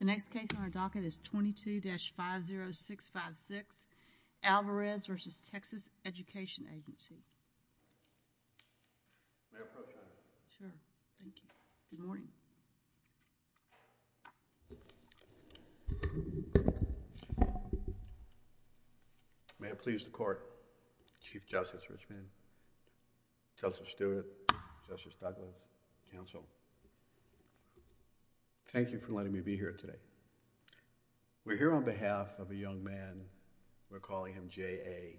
The next case on our docket is 22-50656, Alvarez v. Texas Education Agency. May I approach you, Madam? Sure. Thank you. Good morning. May it please the court, Chief Justice Richmond, Justice Stewart, Justice Douglas, counsel, Thank you for letting me be here today. We're here on behalf of a young man, we're calling him J.A.,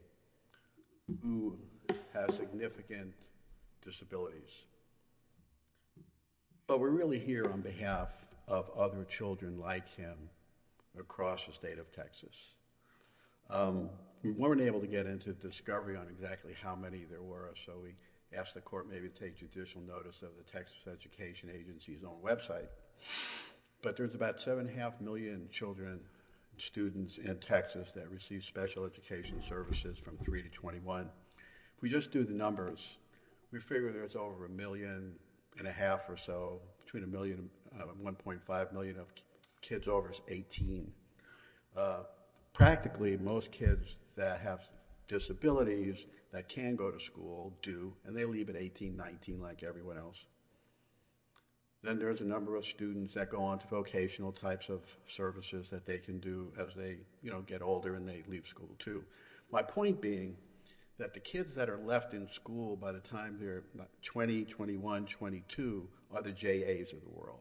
who has significant disabilities. But we're really here on behalf of other children like him across the state of Texas. We weren't able to get into discovery on exactly how many there were, so we asked the court maybe to take judicial notice of the Texas Education Agency's own website. But there's about 7.5 million children and students in Texas that receive special education services from 3 to 21. If we just do the numbers, we figure there's over a million and a half or so, between a million and 1.5 million of kids over 18. Practically, most kids that have disabilities that can go to school do, and they leave at 18, 19 like everyone else. Then there's a number of students that go on to vocational types of services that they can do as they get older and they leave school too. My point being that the kids that are left in school by the time they're 20, 21, 22 are the J.A.'s of the world.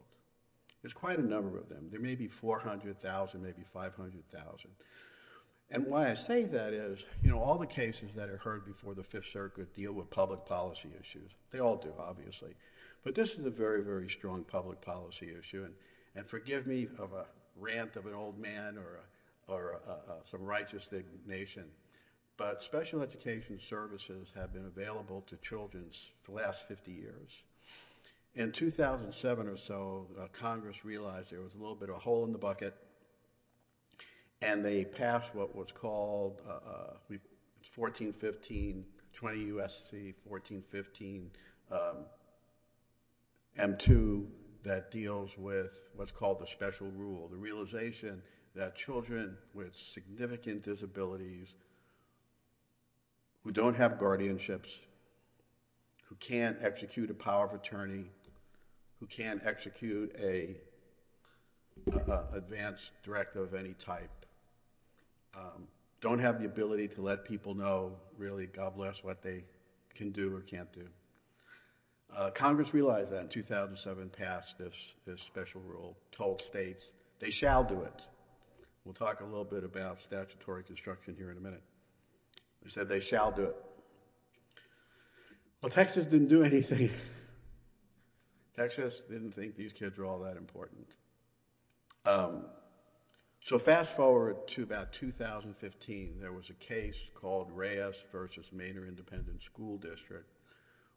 There's quite a number of them. There may be 400,000, maybe 500,000. Why I say that is all the cases that are heard before the Fifth Circuit deal with public policy issues. They all do, obviously. But this is a very, very strong public policy issue. Forgive me of a rant of an old man or some righteous nation, but special education services have been available to children for the last 50 years. In 2007 or so, Congress realized there was a little bit of a hole in the bucket, and they passed what was called 1415, 20 U.S.C. 1415 M2 that deals with what's called the special rule, the realization that children with significant disabilities who don't have guardianships, who can't execute a power of attorney, who can't execute an advance directive of any type, don't have the ability to let people know really, God bless, what they can do or can't do. Congress realized that in 2007, passed this special rule, told states they shall do it. We'll talk a little bit about statutory construction here in a minute. They said they shall do it. Well, Texas didn't do anything. Texas didn't think these kids were all that important. So fast forward to about 2015. There was a case called Reyes v. Maynard Independent School District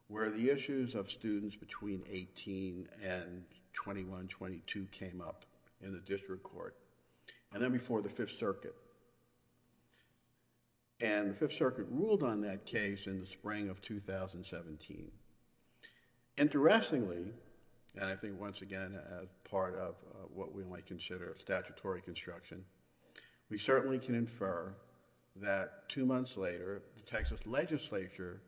where the issues of students between 18 and 21, 22 came up in the district court, and then before the Fifth Circuit. And the Fifth Circuit ruled on that case in the spring of 2017. Interestingly, and I think once again part of what we might consider statutory construction, we certainly can infer that two months later, the Texas legislature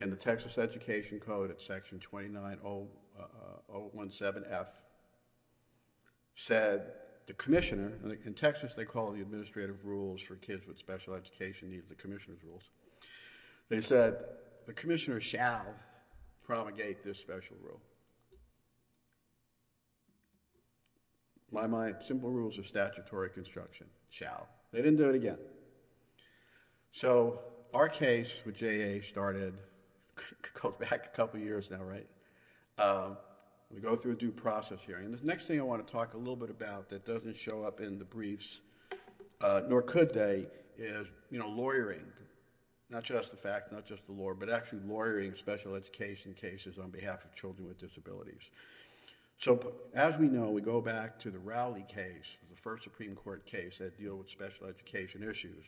and the Texas Education Code at Section 29017F said the commissioner, and in Texas they call it the administrative rules for kids with special education needs, the commissioner's rules. They said the commissioner shall promulgate this special rule. By my simple rules of statutory construction, shall. They didn't do it again. So our case with JA started back a couple years now, right? We go through a due process hearing. The next thing I want to talk a little bit about that doesn't show up in the briefs, nor could they, is lawyering. Not just the fact, not just the law, but actually lawyering special education cases on behalf of children with disabilities. So as we know, we go back to the Rowley case, the first Supreme Court case that deals with special education issues,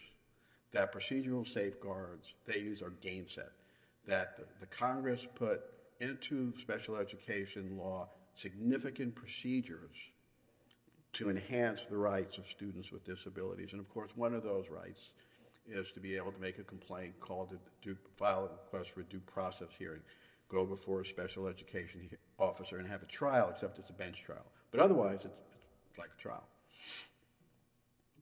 that procedural safeguards, they use our gainset that the Congress put into special education law significant procedures to enhance the rights of students with disabilities. And of course, one of those rights is to be able to make a complaint, file a request for a due process hearing, go before a special education officer and have a trial, except it's a bench trial. But otherwise, it's like a trial.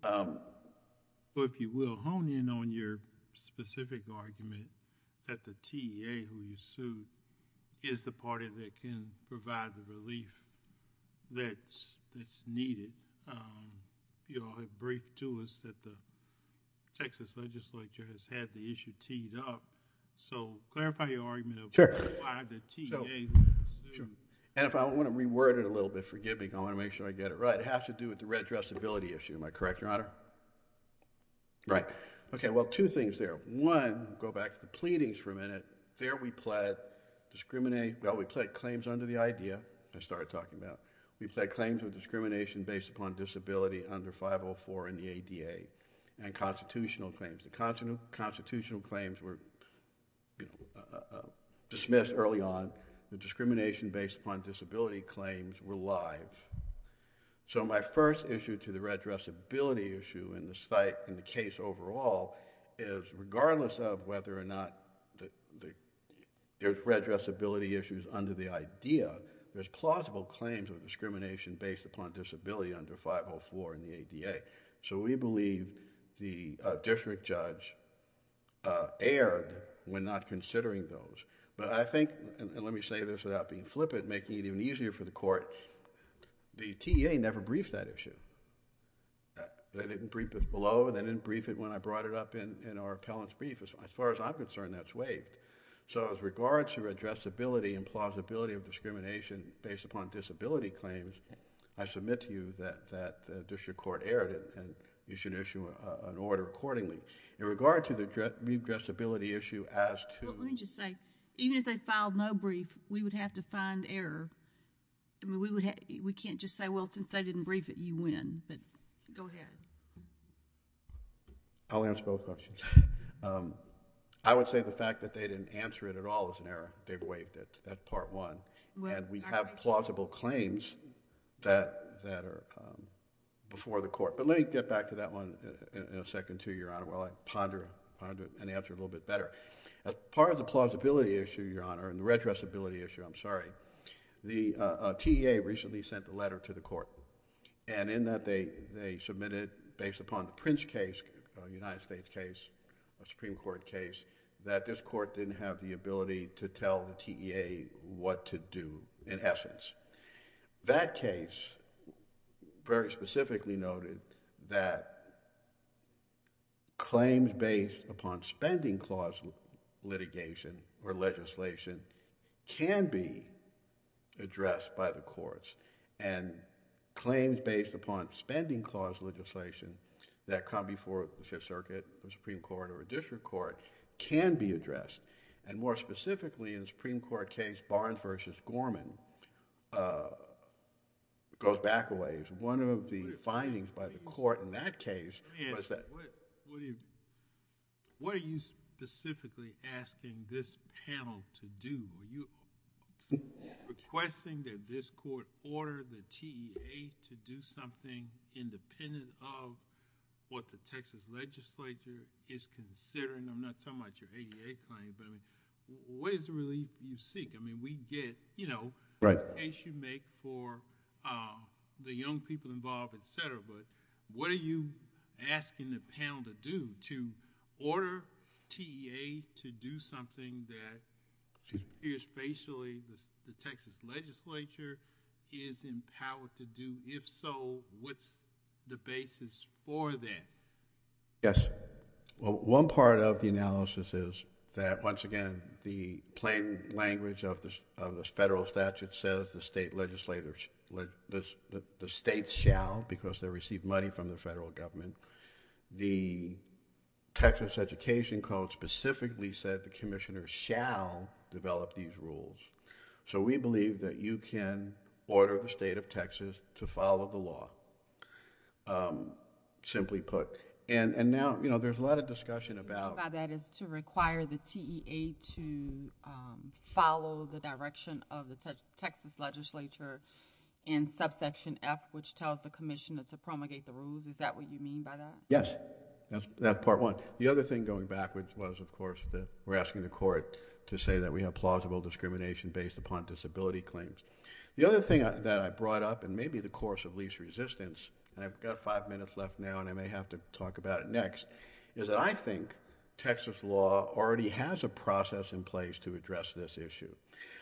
But if you will, hone in on your specific argument that the TA who you sued is the party that can provide the relief that's needed. You all have briefed to us that the Texas legislature has had the issue teed up. So clarify your argument of why the TA who you sued. And if I want to reword it a little bit, forgive me, I want to make sure I get it right. It has to do with the redressability issue. Am I correct, Your Honor? Right. Okay, well, two things there. One, go back to the pleadings for a minute. There we pled claims under the idea I started talking about. We pled claims of discrimination based upon disability under 504 in the ADA and constitutional claims. The constitutional claims were dismissed early on. The discrimination based upon disability claims were live. So my first issue to the redressability issue in the case overall is regardless of whether or not there's redressability issues under the idea, there's plausible claims of discrimination based upon disability under 504 in the ADA. So we believe the district judge erred when not considering those. But I think, and let me say this without being flippant, making it even easier for the courts, the TA never briefed that issue. They didn't brief it below, they didn't brief it when I brought it up in our appellant's brief. As far as I'm concerned, that's waived. So as regards to redressability and plausibility of discrimination based upon disability claims, I submit to you that the district court erred and you should issue an order accordingly. In regard to the redressability issue as to... Well, let me just say, even if they filed no brief, we would have to find error. We can't just say, well, since they didn't brief it, you win. But go ahead. I'll answer both questions. I would say the fact that they didn't answer it at all is an error. They waived it. That's part one. And we have plausible claims that are before the court. But let me get back to that one in a second, too, Your Honour, while I ponder and answer it a little bit better. As part of the plausibility issue, Your Honour, and the redressability issue, I'm sorry, the TEA recently sent a letter to the court, and in that they submitted, based upon the Prince case, a United States case, a Supreme Court case, that this court didn't have the ability to tell the TEA what to do, in essence. That case very specifically noted that claims based upon spending clause litigation or legislation can be addressed by the courts. And claims based upon spending clause legislation that come before the Fifth Circuit, the Supreme Court, or a district court can be addressed. And more specifically, in the Supreme Court case, Barnes v. Gorman, it goes back a ways. One of the findings by the court in that case was that... Let me ask, what are you specifically asking this panel to do? Are you requesting that this court order the TEA to do something independent of what the Texas legislature is considering? I'm not talking about your ADA claim, but what is the relief you seek? I mean, we get... Right.... the case you make for the young people involved, et cetera, but what are you asking the panel to do, to order TEA to do something that appears facially the Texas legislature is empowered to do? If so, what's the basis for that? Yes. Well, one part of the analysis is that, once again, the plain language of the federal statute says the state legislatures... the states shall, because they receive money from the federal government. The Texas Education Code specifically said the commissioners shall develop these rules. So we believe that you can order the state of Texas to follow the law. Simply put. And now, you know, there's a lot of discussion about... That is to require the TEA to follow the direction of the Texas legislature in subsection F, which tells the commissioner to promulgate the rules. Is that what you mean by that? Yes. That's part one. The other thing, going backwards, was, of course, that we're asking the court to say that we have plausible discrimination based upon disability claims. The other thing that I brought up, and maybe the course of least resistance, and I've got five minutes left now, and I may have to talk about it next, is that I think Texas law already has a process in place to address this issue.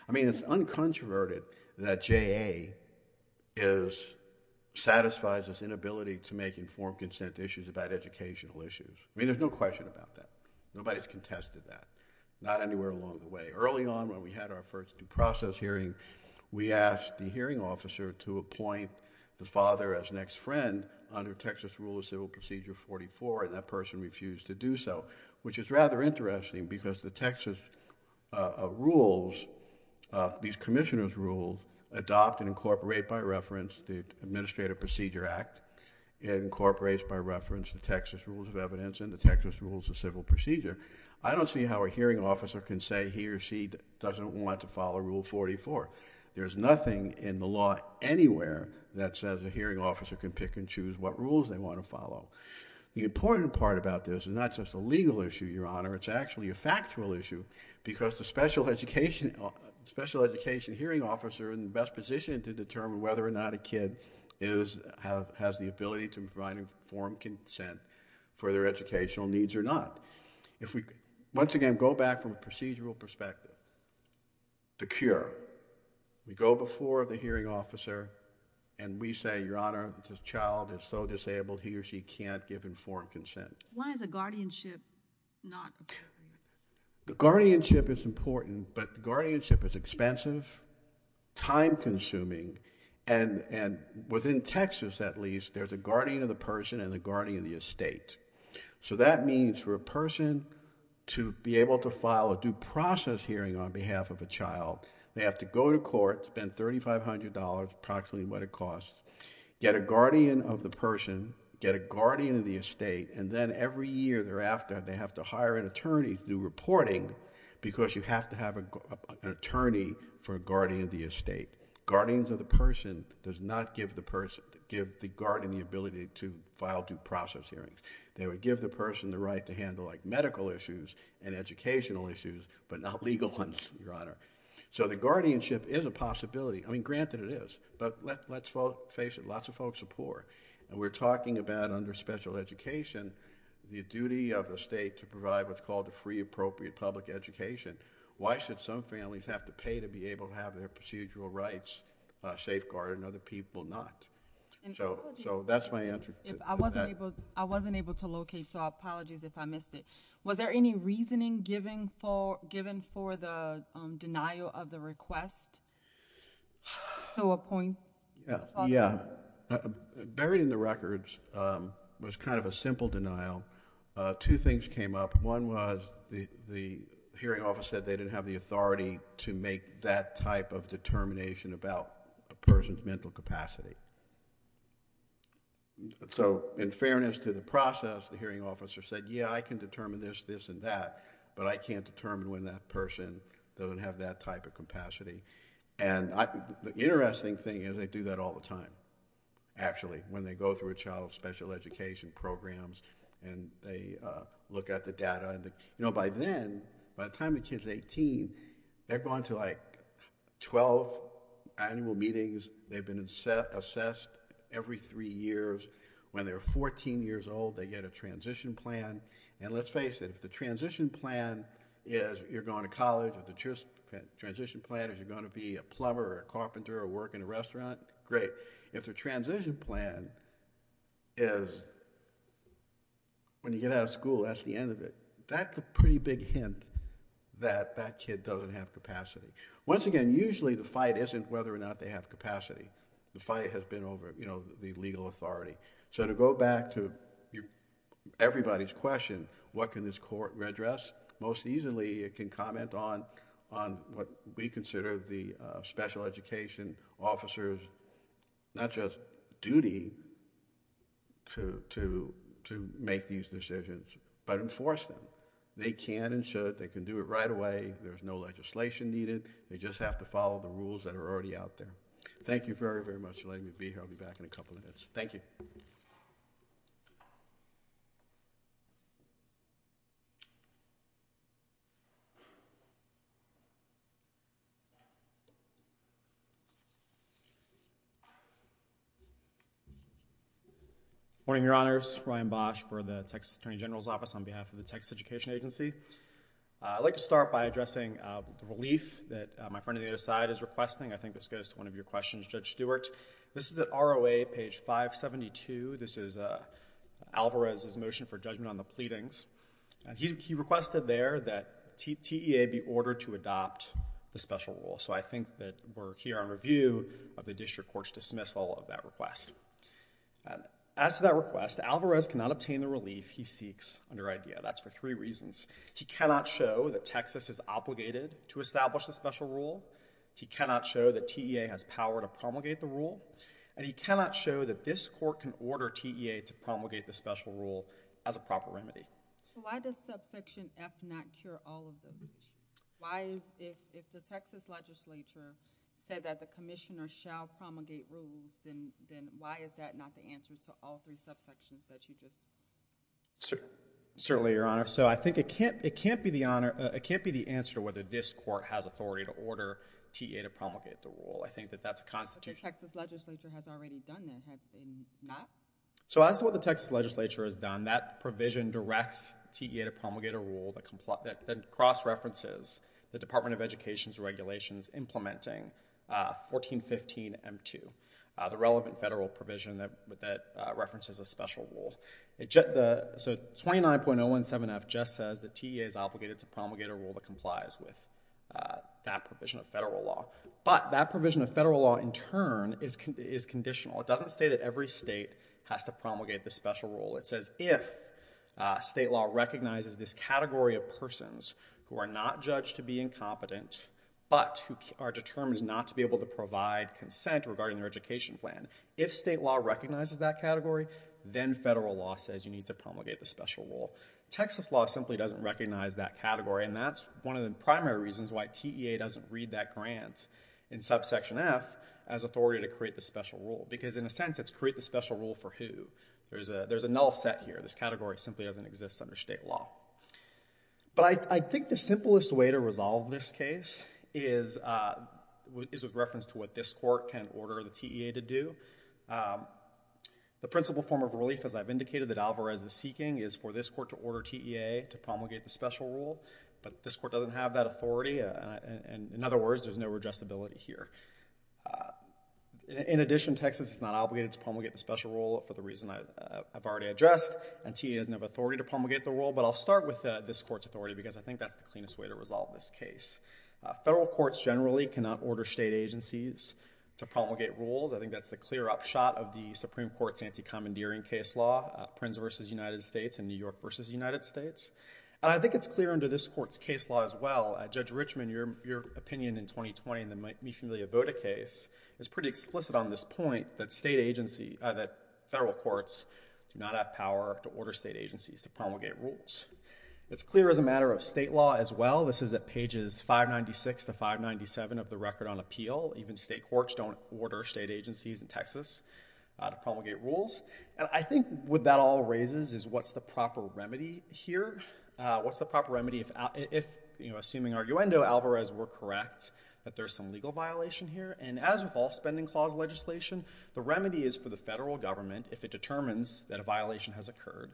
I mean, it's uncontroverted that JA satisfies this inability to make informed consent issues about educational issues. I mean, there's no question about that. Nobody's contested that. Not anywhere along the way. Early on, when we had our first due process hearing, we asked the hearing officer to appoint the father as an ex-friend under Texas Rule of Civil Procedure 44, and that person refused to do so, which is rather interesting because the Texas rules, these commissioner's rules adopt and incorporate by reference the Administrative Procedure Act. It incorporates by reference the Texas Rules of Evidence and the Texas Rules of Civil Procedure. I don't see how a hearing officer can say he or she doesn't want to follow Rule 44. There's nothing in the law anywhere that says a hearing officer can pick and choose what rules they want to follow. The important part about this is not just a legal issue, Your Honor, it's actually a factual issue because the special education hearing officer in the best position to determine whether or not a kid has the ability to provide informed consent for their educational needs or not. Once again, go back from a procedural perspective. The cure. We go before the hearing officer and we say, Your Honor, this child is so disabled, he or she can't give informed consent. Why is a guardianship not a priority? The guardianship is important, but the guardianship is expensive, time-consuming, and within Texas, at least, there's a guardian of the person and a guardian of the estate. So that means for a person to be able to file a due process hearing on behalf of a child, they have to go to court, spend $3,500, approximately what it costs, get a guardian of the person, get a guardian of the estate, and then every year thereafter they have to hire an attorney to do reporting because you have to have an attorney for a guardian of the estate. Guardians of the person does not give the person, the guardian of the estate, the ability to file due process hearings. They would give the person the right to handle medical issues and educational issues, but not legal ones, Your Honor. So the guardianship is a possibility. I mean, granted it is, but let's face it, lots of folks are poor. And we're talking about under special education, the duty of the state to provide what's called a free, appropriate public education. Why should some families have to pay to be able to have their procedural rights safeguarded and other people not? So that's my answer. I wasn't able to locate, so apologies if I missed it. Was there any reasoning given for the denial of the request? So a point? Yeah. Buried in the records was kind of a simple denial. Two things came up. One was the hearing office said they didn't have the authority to make that type of determination about a person's mental capacity. So in fairness to the process, the hearing officer said, yeah, I can determine this, this, and that, but I can't determine when that person doesn't have that type of capacity. And the interesting thing is they do that all the time, actually, when they go through a child's special education programs and they look at the data. You know, by then, by the time the kid's 18, they're going to like 12 annual meetings. They've been assessed every three years. When they're 14 years old, they get a transition plan. And let's face it, if the transition plan is you're going to college, if the transition plan is you're going to be a plumber or a carpenter or work in a restaurant, great. If the transition plan is when you get out of school, that's the end of it. That's a pretty big hint that that kid doesn't have capacity. Once again, usually the fight isn't whether or not they have capacity. The fight has been over, you know, the legal authority. So to go back to everybody's question, what can this court redress, most easily it can comment on what we consider the special education officer's not just duty to make these decisions, but enforce them. They can and should. They can do it right away. There's no legislation needed. They just have to follow the rules that are already out there. Thank you very, very much for letting me be here. I'll be back in a couple minutes. Thank you. Good morning, Your Honors. Ryan Bosch for the Texas Attorney General's Office on behalf of the Texas Education Agency. I'd like to start by addressing the relief that my friend on the other side is requesting. I think this goes to one of your questions, Judge Stewart. This is at ROA, page 572. This is Alvarez's motion for judgment on the pleadings. He requested there that TEA be ordered to adopt the special rule. I think that we're here on review of the district court's dismissal of that request. As to that request, Alvarez cannot obtain the relief he seeks under IDEA. That's for three reasons. He cannot show that Texas is obligated to establish the special rule. He cannot show that TEA has power to promulgate the rule. He cannot show that this court can order TEA to promulgate the special rule as a proper remedy. Why does subsection F not cure all of those issues? If the Texas legislature said that the commissioner shall promulgate rules, then why is that not the answer to all three subsections that you just said? Certainly, Your Honor. I think it can't be the answer to whether this court has authority to order TEA to promulgate the rule. I think that that's a constitutional issue. But the Texas legislature has already done that, have they not? As to what the Texas legislature has done, that provision directs TEA to promulgate a rule that cross-references the Department of Education's regulations implementing 1415M2, the relevant federal provision that references a special rule. So 29.017F just says that TEA is obligated to promulgate a rule that complies with that provision of federal law. But that provision of federal law, in turn, is conditional. It doesn't say that every state has to promulgate the special rule. It says if state law recognizes this category of persons who are not judged to be incompetent, but who are determined not to be able to provide consent regarding their education plan, if state law recognizes that category, then federal law says you need to promulgate the special rule. Texas law simply doesn't recognize that category, and that's one of the primary reasons why TEA doesn't read that grant in subsection F as authority to create the special rule. Because, in a sense, it's create the special rule for who. There's a null set here. This category simply doesn't exist under state law. But I think the simplest way to resolve this case is with reference to what this court can order the TEA to do. The principal form of relief, as I've indicated, that Alvarez is seeking is for this court to order TEA to promulgate the special rule, but this court doesn't have that authority. In other words, there's no redressability here. In addition, Texas is not obligated to promulgate the special rule for the reason I've already addressed, and TEA doesn't have authority to promulgate the rule. But I'll start with this court's authority because I think that's the cleanest way to resolve this case. Federal courts generally cannot order state agencies to promulgate rules. I think that's the clear-up shot of the Supreme Court's anti-commandeering case law, Prince v. United States and New York v. United States. And I think it's clear under this court's case law as well. Judge Richman, your opinion in 2020 in the Mi Familia Vota case is pretty explicit on this point that federal courts do not have power to order state agencies to promulgate rules. It's clear as a matter of state law as well. This is at pages 596 to 597 of the Record on Appeal. Even state courts don't order state agencies in Texas to promulgate rules. And I think what that all raises is what's the proper remedy here? What's the proper remedy if, assuming arguendo Alvarez were correct, that there's some legal violation here? And as with all spending clause legislation, the remedy is for the federal government, if it determines that a violation has occurred,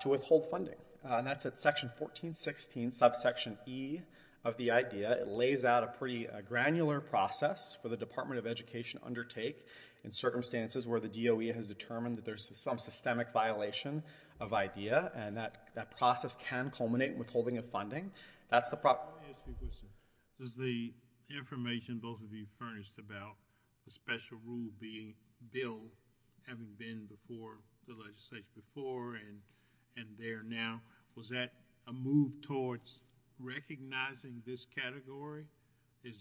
to withhold funding. And that's at section 1416, subsection E of the IDEA. It lays out a pretty granular process for the Department of Education to undertake in circumstances where the DOE has determined that there's some systemic violation of IDEA, and that process can culminate in withholding of funding. That's the problem. Let me ask you a question. Does the information both of you furnished about the special rule being billed, having been before the legislation before and there now, was that a move towards recognizing this category? In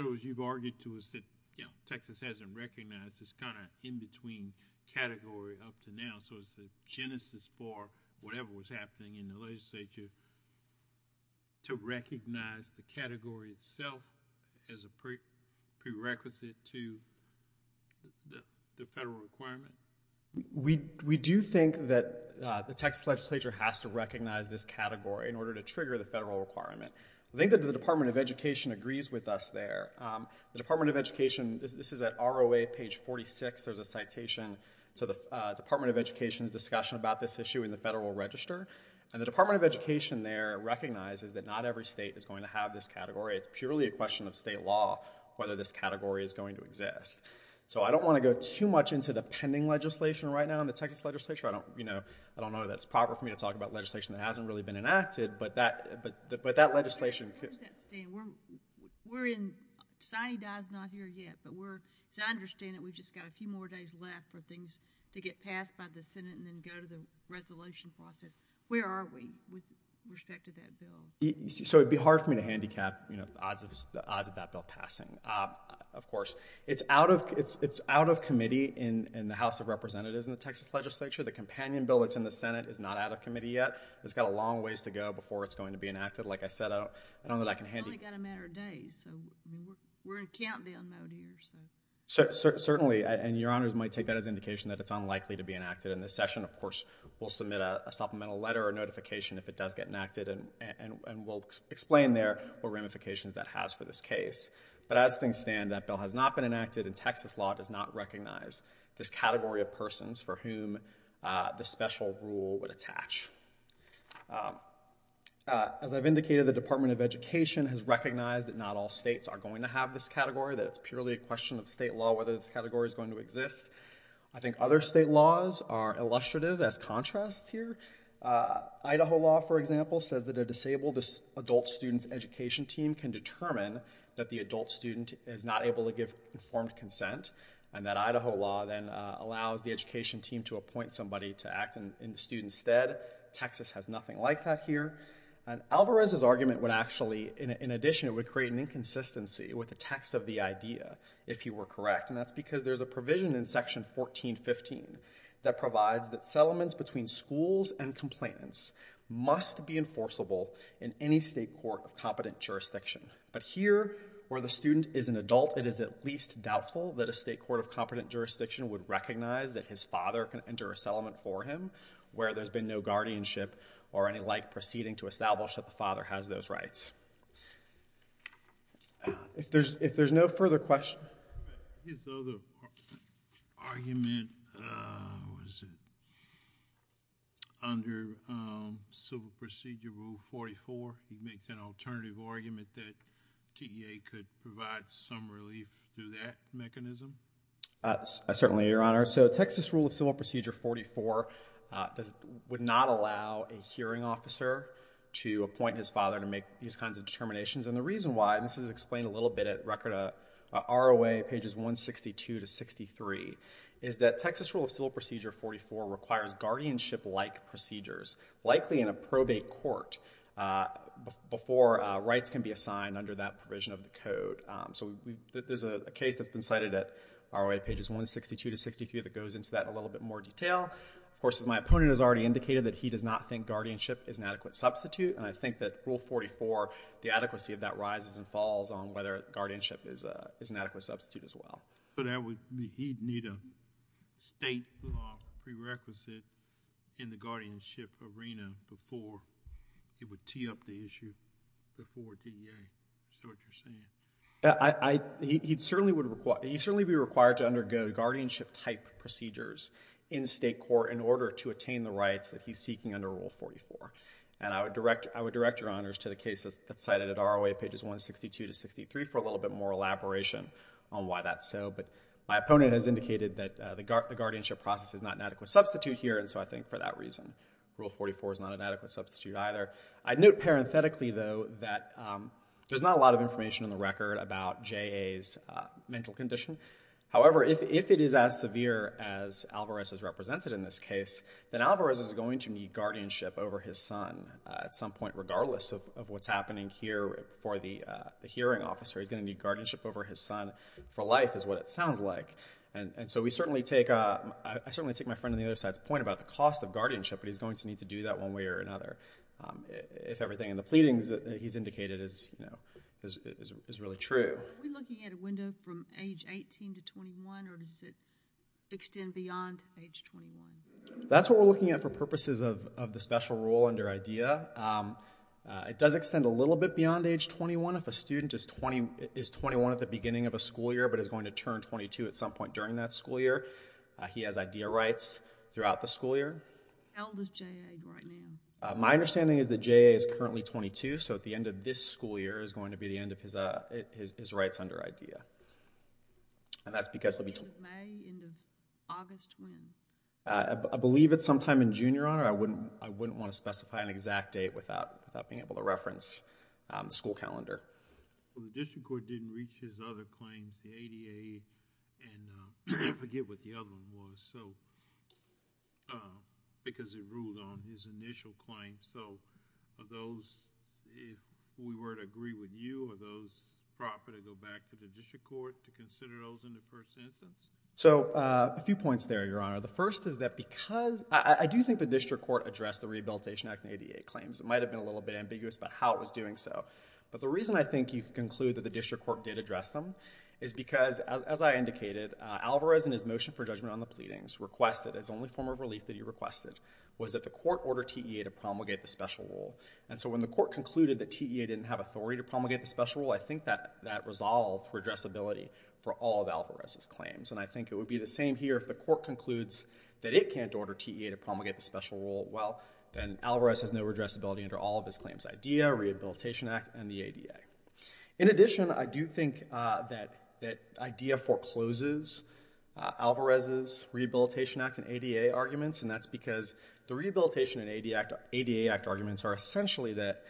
other words, you've argued to us that Texas hasn't recognized this kind of in-between category up to now, so it's the genesis for whatever was happening in the legislature to recognize the category itself as a prerequisite to the federal requirement? We do think that the Texas legislature has to recognize this category in order to trigger the federal requirement. I think that the Department of Education agrees with us there. The Department of Education, this is at ROA, page 46, there's a citation to the Department of Education's discussion about this issue in the Federal Register, and the Department of Education there recognizes that not every state is going to have this category. It's purely a question of state law whether this category is going to exist. So I don't want to go too much into the pending legislation right now in the Texas legislature. I don't know that it's proper for me to talk about legislation that hasn't really been enacted, but that legislation... Where does that stand? We're in... Sonny Dye's not here yet, but as I understand it, we've just got a few more days left for things to get passed by the Senate and then go to the resolution process. Where are we with respect to that bill? So it would be hard for me to handicap, you know, the odds of that bill passing, of course. It's out of committee in the House of Representatives in the Texas legislature. The companion bill that's in the Senate is not out of committee yet. It's got a long ways to go before it's going to be enacted. Like I said, I don't know that I can handle... We've only got a matter of days, so... We're in countdown mode here, so... Certainly, and Your Honors might take that as indication that it's unlikely to be enacted in this session. Of course, we'll submit a supplemental letter or notification if it does get enacted, and we'll explain there what ramifications that has for this case. But as things stand, that bill has not been enacted, and Texas law does not recognize this category of persons for whom this special rule would attach. As I've indicated, the Department of Education has recognized that not all states are going to have this category, that it's purely a question of state law whether this category is going to exist. I think other state laws are illustrative as contrasts here. Idaho law, for example, says that a disabled adult student's education team can determine that the adult student is not able to give informed consent, and that Idaho law then allows the education team to appoint somebody to act in the student's stead. Texas has nothing like that here. And Alvarez's argument would actually... In addition, it would create an inconsistency with the text of the idea, if you were correct, and that's because there's a provision in Section 1415 that provides that settlements between schools and complainants must be enforceable in any state court of competent jurisdiction. But here, where the student is an adult, it is at least doubtful that a state court of competent jurisdiction would recognize that his father can enter a settlement for him where there's been no guardianship or any like proceeding to establish that the father has those rights. If there's no further questions... His other argument... Was it... Under Civil Procedure Rule 44, he makes an alternative argument that TEA could provide some relief through that mechanism? Certainly, Your Honor. So Texas Rule of Civil Procedure 44 would not allow a hearing officer to appoint his father to make these kinds of determinations. And the reason why, and this is explained a little bit at R.O.A. pages 162 to 63, is that Texas Rule of Civil Procedure 44 requires guardianship-like procedures, likely in a probate court, before rights can be assigned under that provision of the code. So there's a case that's been cited at R.O.A. pages 162 to 63 that goes into that in a little bit more detail. Of course, as my opponent has already indicated, he does not think guardianship is an adequate substitute, and I think that Rule 44, the adequacy of that rises and falls on whether guardianship is an adequate substitute as well. But he'd need a state law prerequisite in the guardianship arena before he would tee up the issue before TEA. Is that what you're saying? He'd certainly be required to undergo guardianship-type procedures in state court in order to attain the rights that he's seeking under Rule 44. And I would direct your honors to the case that's cited at R.O.A. pages 162 to 63 for a little bit more elaboration on why that's so. But my opponent has indicated that the guardianship process is not an adequate substitute here, and so I think for that reason Rule 44 is not an adequate substitute either. I'd note parenthetically, though, that there's not a lot of information in the record about J.A.'s mental condition. However, if it is as severe as Alvarez is represented in this case, then Alvarez is going to need guardianship over his son at some point, regardless of what's happening here for the hearing officer. He's going to need guardianship over his son for life, is what it sounds like. And so we certainly take... I certainly take my friend on the other side's point about the cost of guardianship, but he's going to need to do that one way or another, if everything in the pleadings that he's indicated is really true. Are we looking at a window from age 18 to 21, or does it extend beyond age 21? That's what we're looking at for purposes of the special rule under IDEA. It does extend a little bit beyond age 21. If a student is 21 at the beginning of a school year but is going to turn 22 at some point during that school year, he has IDEA rights throughout the school year. How old is J.A. right now? My understanding is that J.A. is currently 22, so at the end of this school year is going to be the end of his rights under IDEA. And that's because... End of May, end of August, when? I believe it's sometime in June, Your Honor. I wouldn't want to specify an exact date without being able to reference the school calendar. The district court didn't reach his other claims, the ADA, and I forget what the other one was, because it ruled on his initial claims. So are those, if we were to agree with you, are those proper to go back to the district court to consider those in the first instance? So a few points there, Your Honor. The first is that because... I do think the district court addressed the Rehabilitation Act and ADA claims. It might have been a little bit ambiguous about how it was doing so. But the reason I think you can conclude that the district court did address them is because, as I indicated, Alvarez, in his motion for judgment on the pleadings, his only form of relief that he requested was that the court order TEA to promulgate the special rule. And so when the court concluded that TEA didn't have authority to promulgate the special rule, I think that resolved redressability for all of Alvarez's claims. And I think it would be the same here if the court concludes that it can't order TEA to promulgate the special rule. Well, then Alvarez has no redressability under all of his claims, IDEA, Rehabilitation Act, and the ADA. In addition, I do think that IDEA forecloses Alvarez's Rehabilitation Act and ADA arguments, and that's because the Rehabilitation and ADA Act arguments are essentially that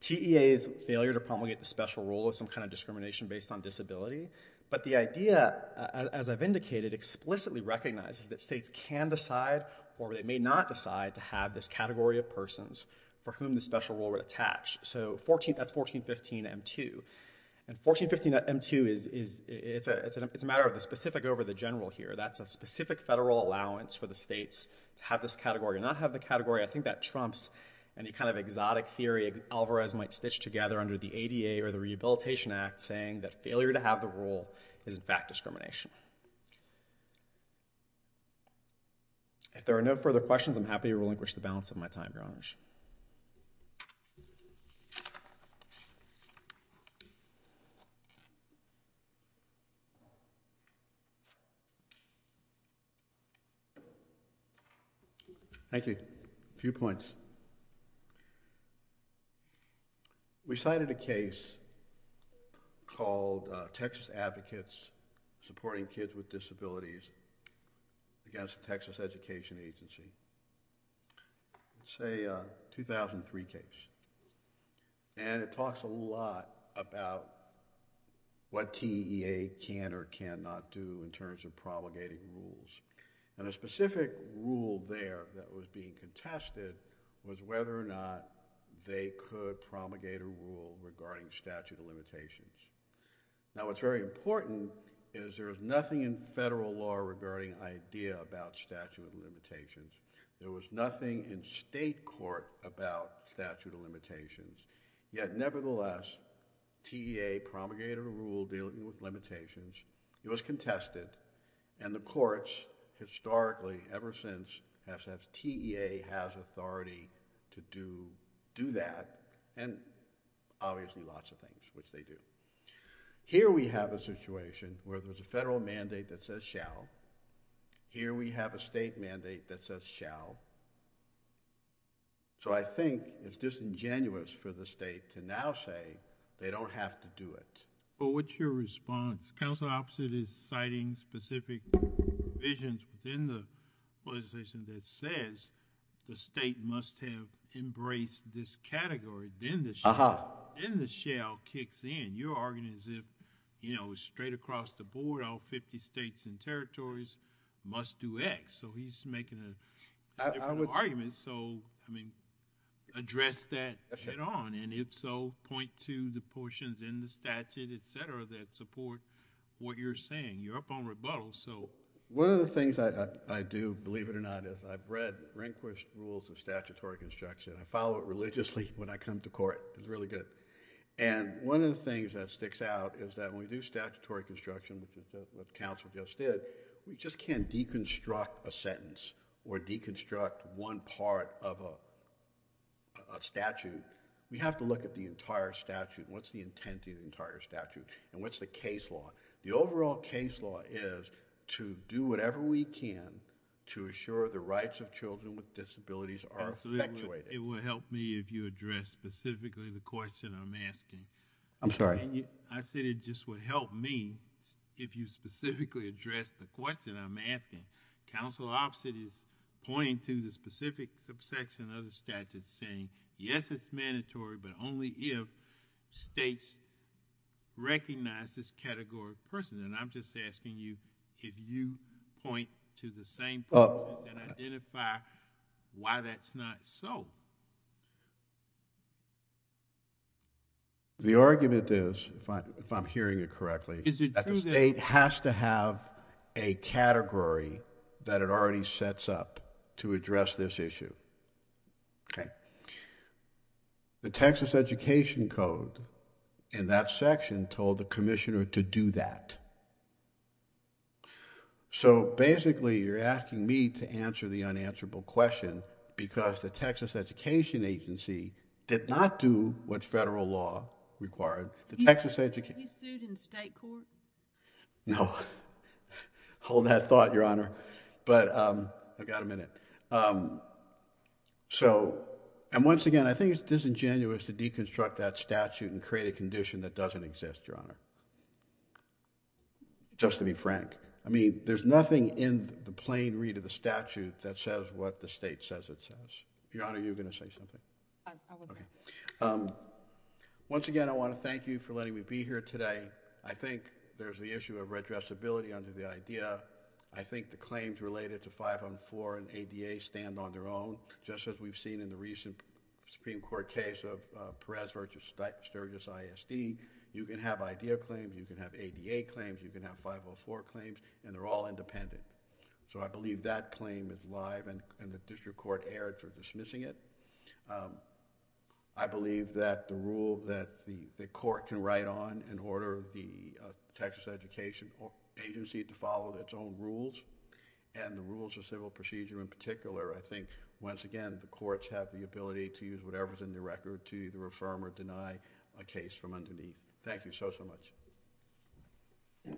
TEA's failure to promulgate the special rule is some kind of discrimination based on disability. But the idea, as I've indicated, explicitly recognizes that states can decide, or they may not decide, to have this category of persons for whom the special rule would attach. So that's 1415 M2. And 1415 M2 is... specific over the general here. That's a specific federal allowance for the states to have this category or not have the category. I think that trumps any kind of exotic theory Alvarez might stitch together under the ADA or the Rehabilitation Act saying that failure to have the rule is, in fact, discrimination. If there are no further questions, I'm happy to relinquish the balance of my time, Your Honors. Thank you. A few points. We cited a case called Texas Advocates Supporting Kids with Disabilities against the Texas Education Agency. It's a 2003 case. And it talks a lot about what TEA can or cannot do in terms of promulgating rules. And the specific rule there that was being contested was whether or not they could promulgate a rule regarding statute of limitations. Now, what's very important is there is nothing in federal law regarding idea about statute of limitations. There was nothing in state court about statute of limitations. Yet, nevertheless, TEA promulgated a rule dealing with limitations. It was contested. And the courts, historically, ever since, have said TEA has authority to do that and obviously lots of things, which they do. Here we have a situation where there's a federal mandate that says shall. Here we have a state mandate that says shall. So I think it's disingenuous for the state to now say they don't have to do it. But what's your response? Counsel opposite is citing specific provisions within the legislation that says the state must have embraced this category. Then the shall kicks in. You're arguing as if, you know, straight across the board, all 50 states and territories must do X. So he's making a different argument. So, I mean, address that head on. And if so, point to the portions in the statute, etc., that support what you're saying. You're up on rebuttal. One of the things I do, believe it or not, is I've read Rehnquist's Rules of Statutory Construction. I follow it religiously when I come to court. It's really good. And one of the things that sticks out is that when we do statutory construction, which is what counsel just did, we just can't deconstruct a sentence or deconstruct one part of a statute. We have to look at the entire statute. What's the intent of the entire statute? And what's the case law? The overall case law is to do whatever we can to assure the rights of children with disabilities are effectuated. It would help me if you addressed specifically the question I'm asking. I'm sorry? I said it just would help me if you specifically addressed the question I'm asking. Counsel opposite is pointing to the specific subsection of another statute saying, yes, it's mandatory, but only if states recognize this category of persons. And I'm just asking you if you point to the same persons and identify why that's not so. The argument is, if I'm hearing it correctly, that the state has to have a category that it already sets up to address this issue. The Texas Education Code in that section told the commissioner to do that. So basically you're asking me to answer the unanswerable question because the Texas Education Agency did not do what federal law required. He sued in state court? No. Hold that thought, Your Honor. But I've got a minute. So, and once again, I think it's disingenuous to deconstruct that statute and create a condition that doesn't exist, Your Honor. Just to be frank. I mean, there's nothing in the plain read of the statute that says what the state says it says. Your Honor, you were going to say something? I wasn't. Once again, I want to thank you for letting me be here today. I think there's the issue of redressability under the IDEA. I think the claims related to 504 and ADA stand on their own. Just as we've seen in the recent Supreme Court case of Perez v. Sturgis ISD, you can have IDEA claims, you can have ADA claims, you can have 504 claims, and they're all independent. So I believe that claim is live and the district court erred for dismissing it. I believe that the rule that the court can write on in order for the Texas Education Agency to follow its own rules and the rules of civil procedure in particular, I think, once again, the courts have the ability to use whatever's in the record to either affirm or deny a case from underneath. Thank you so, so much.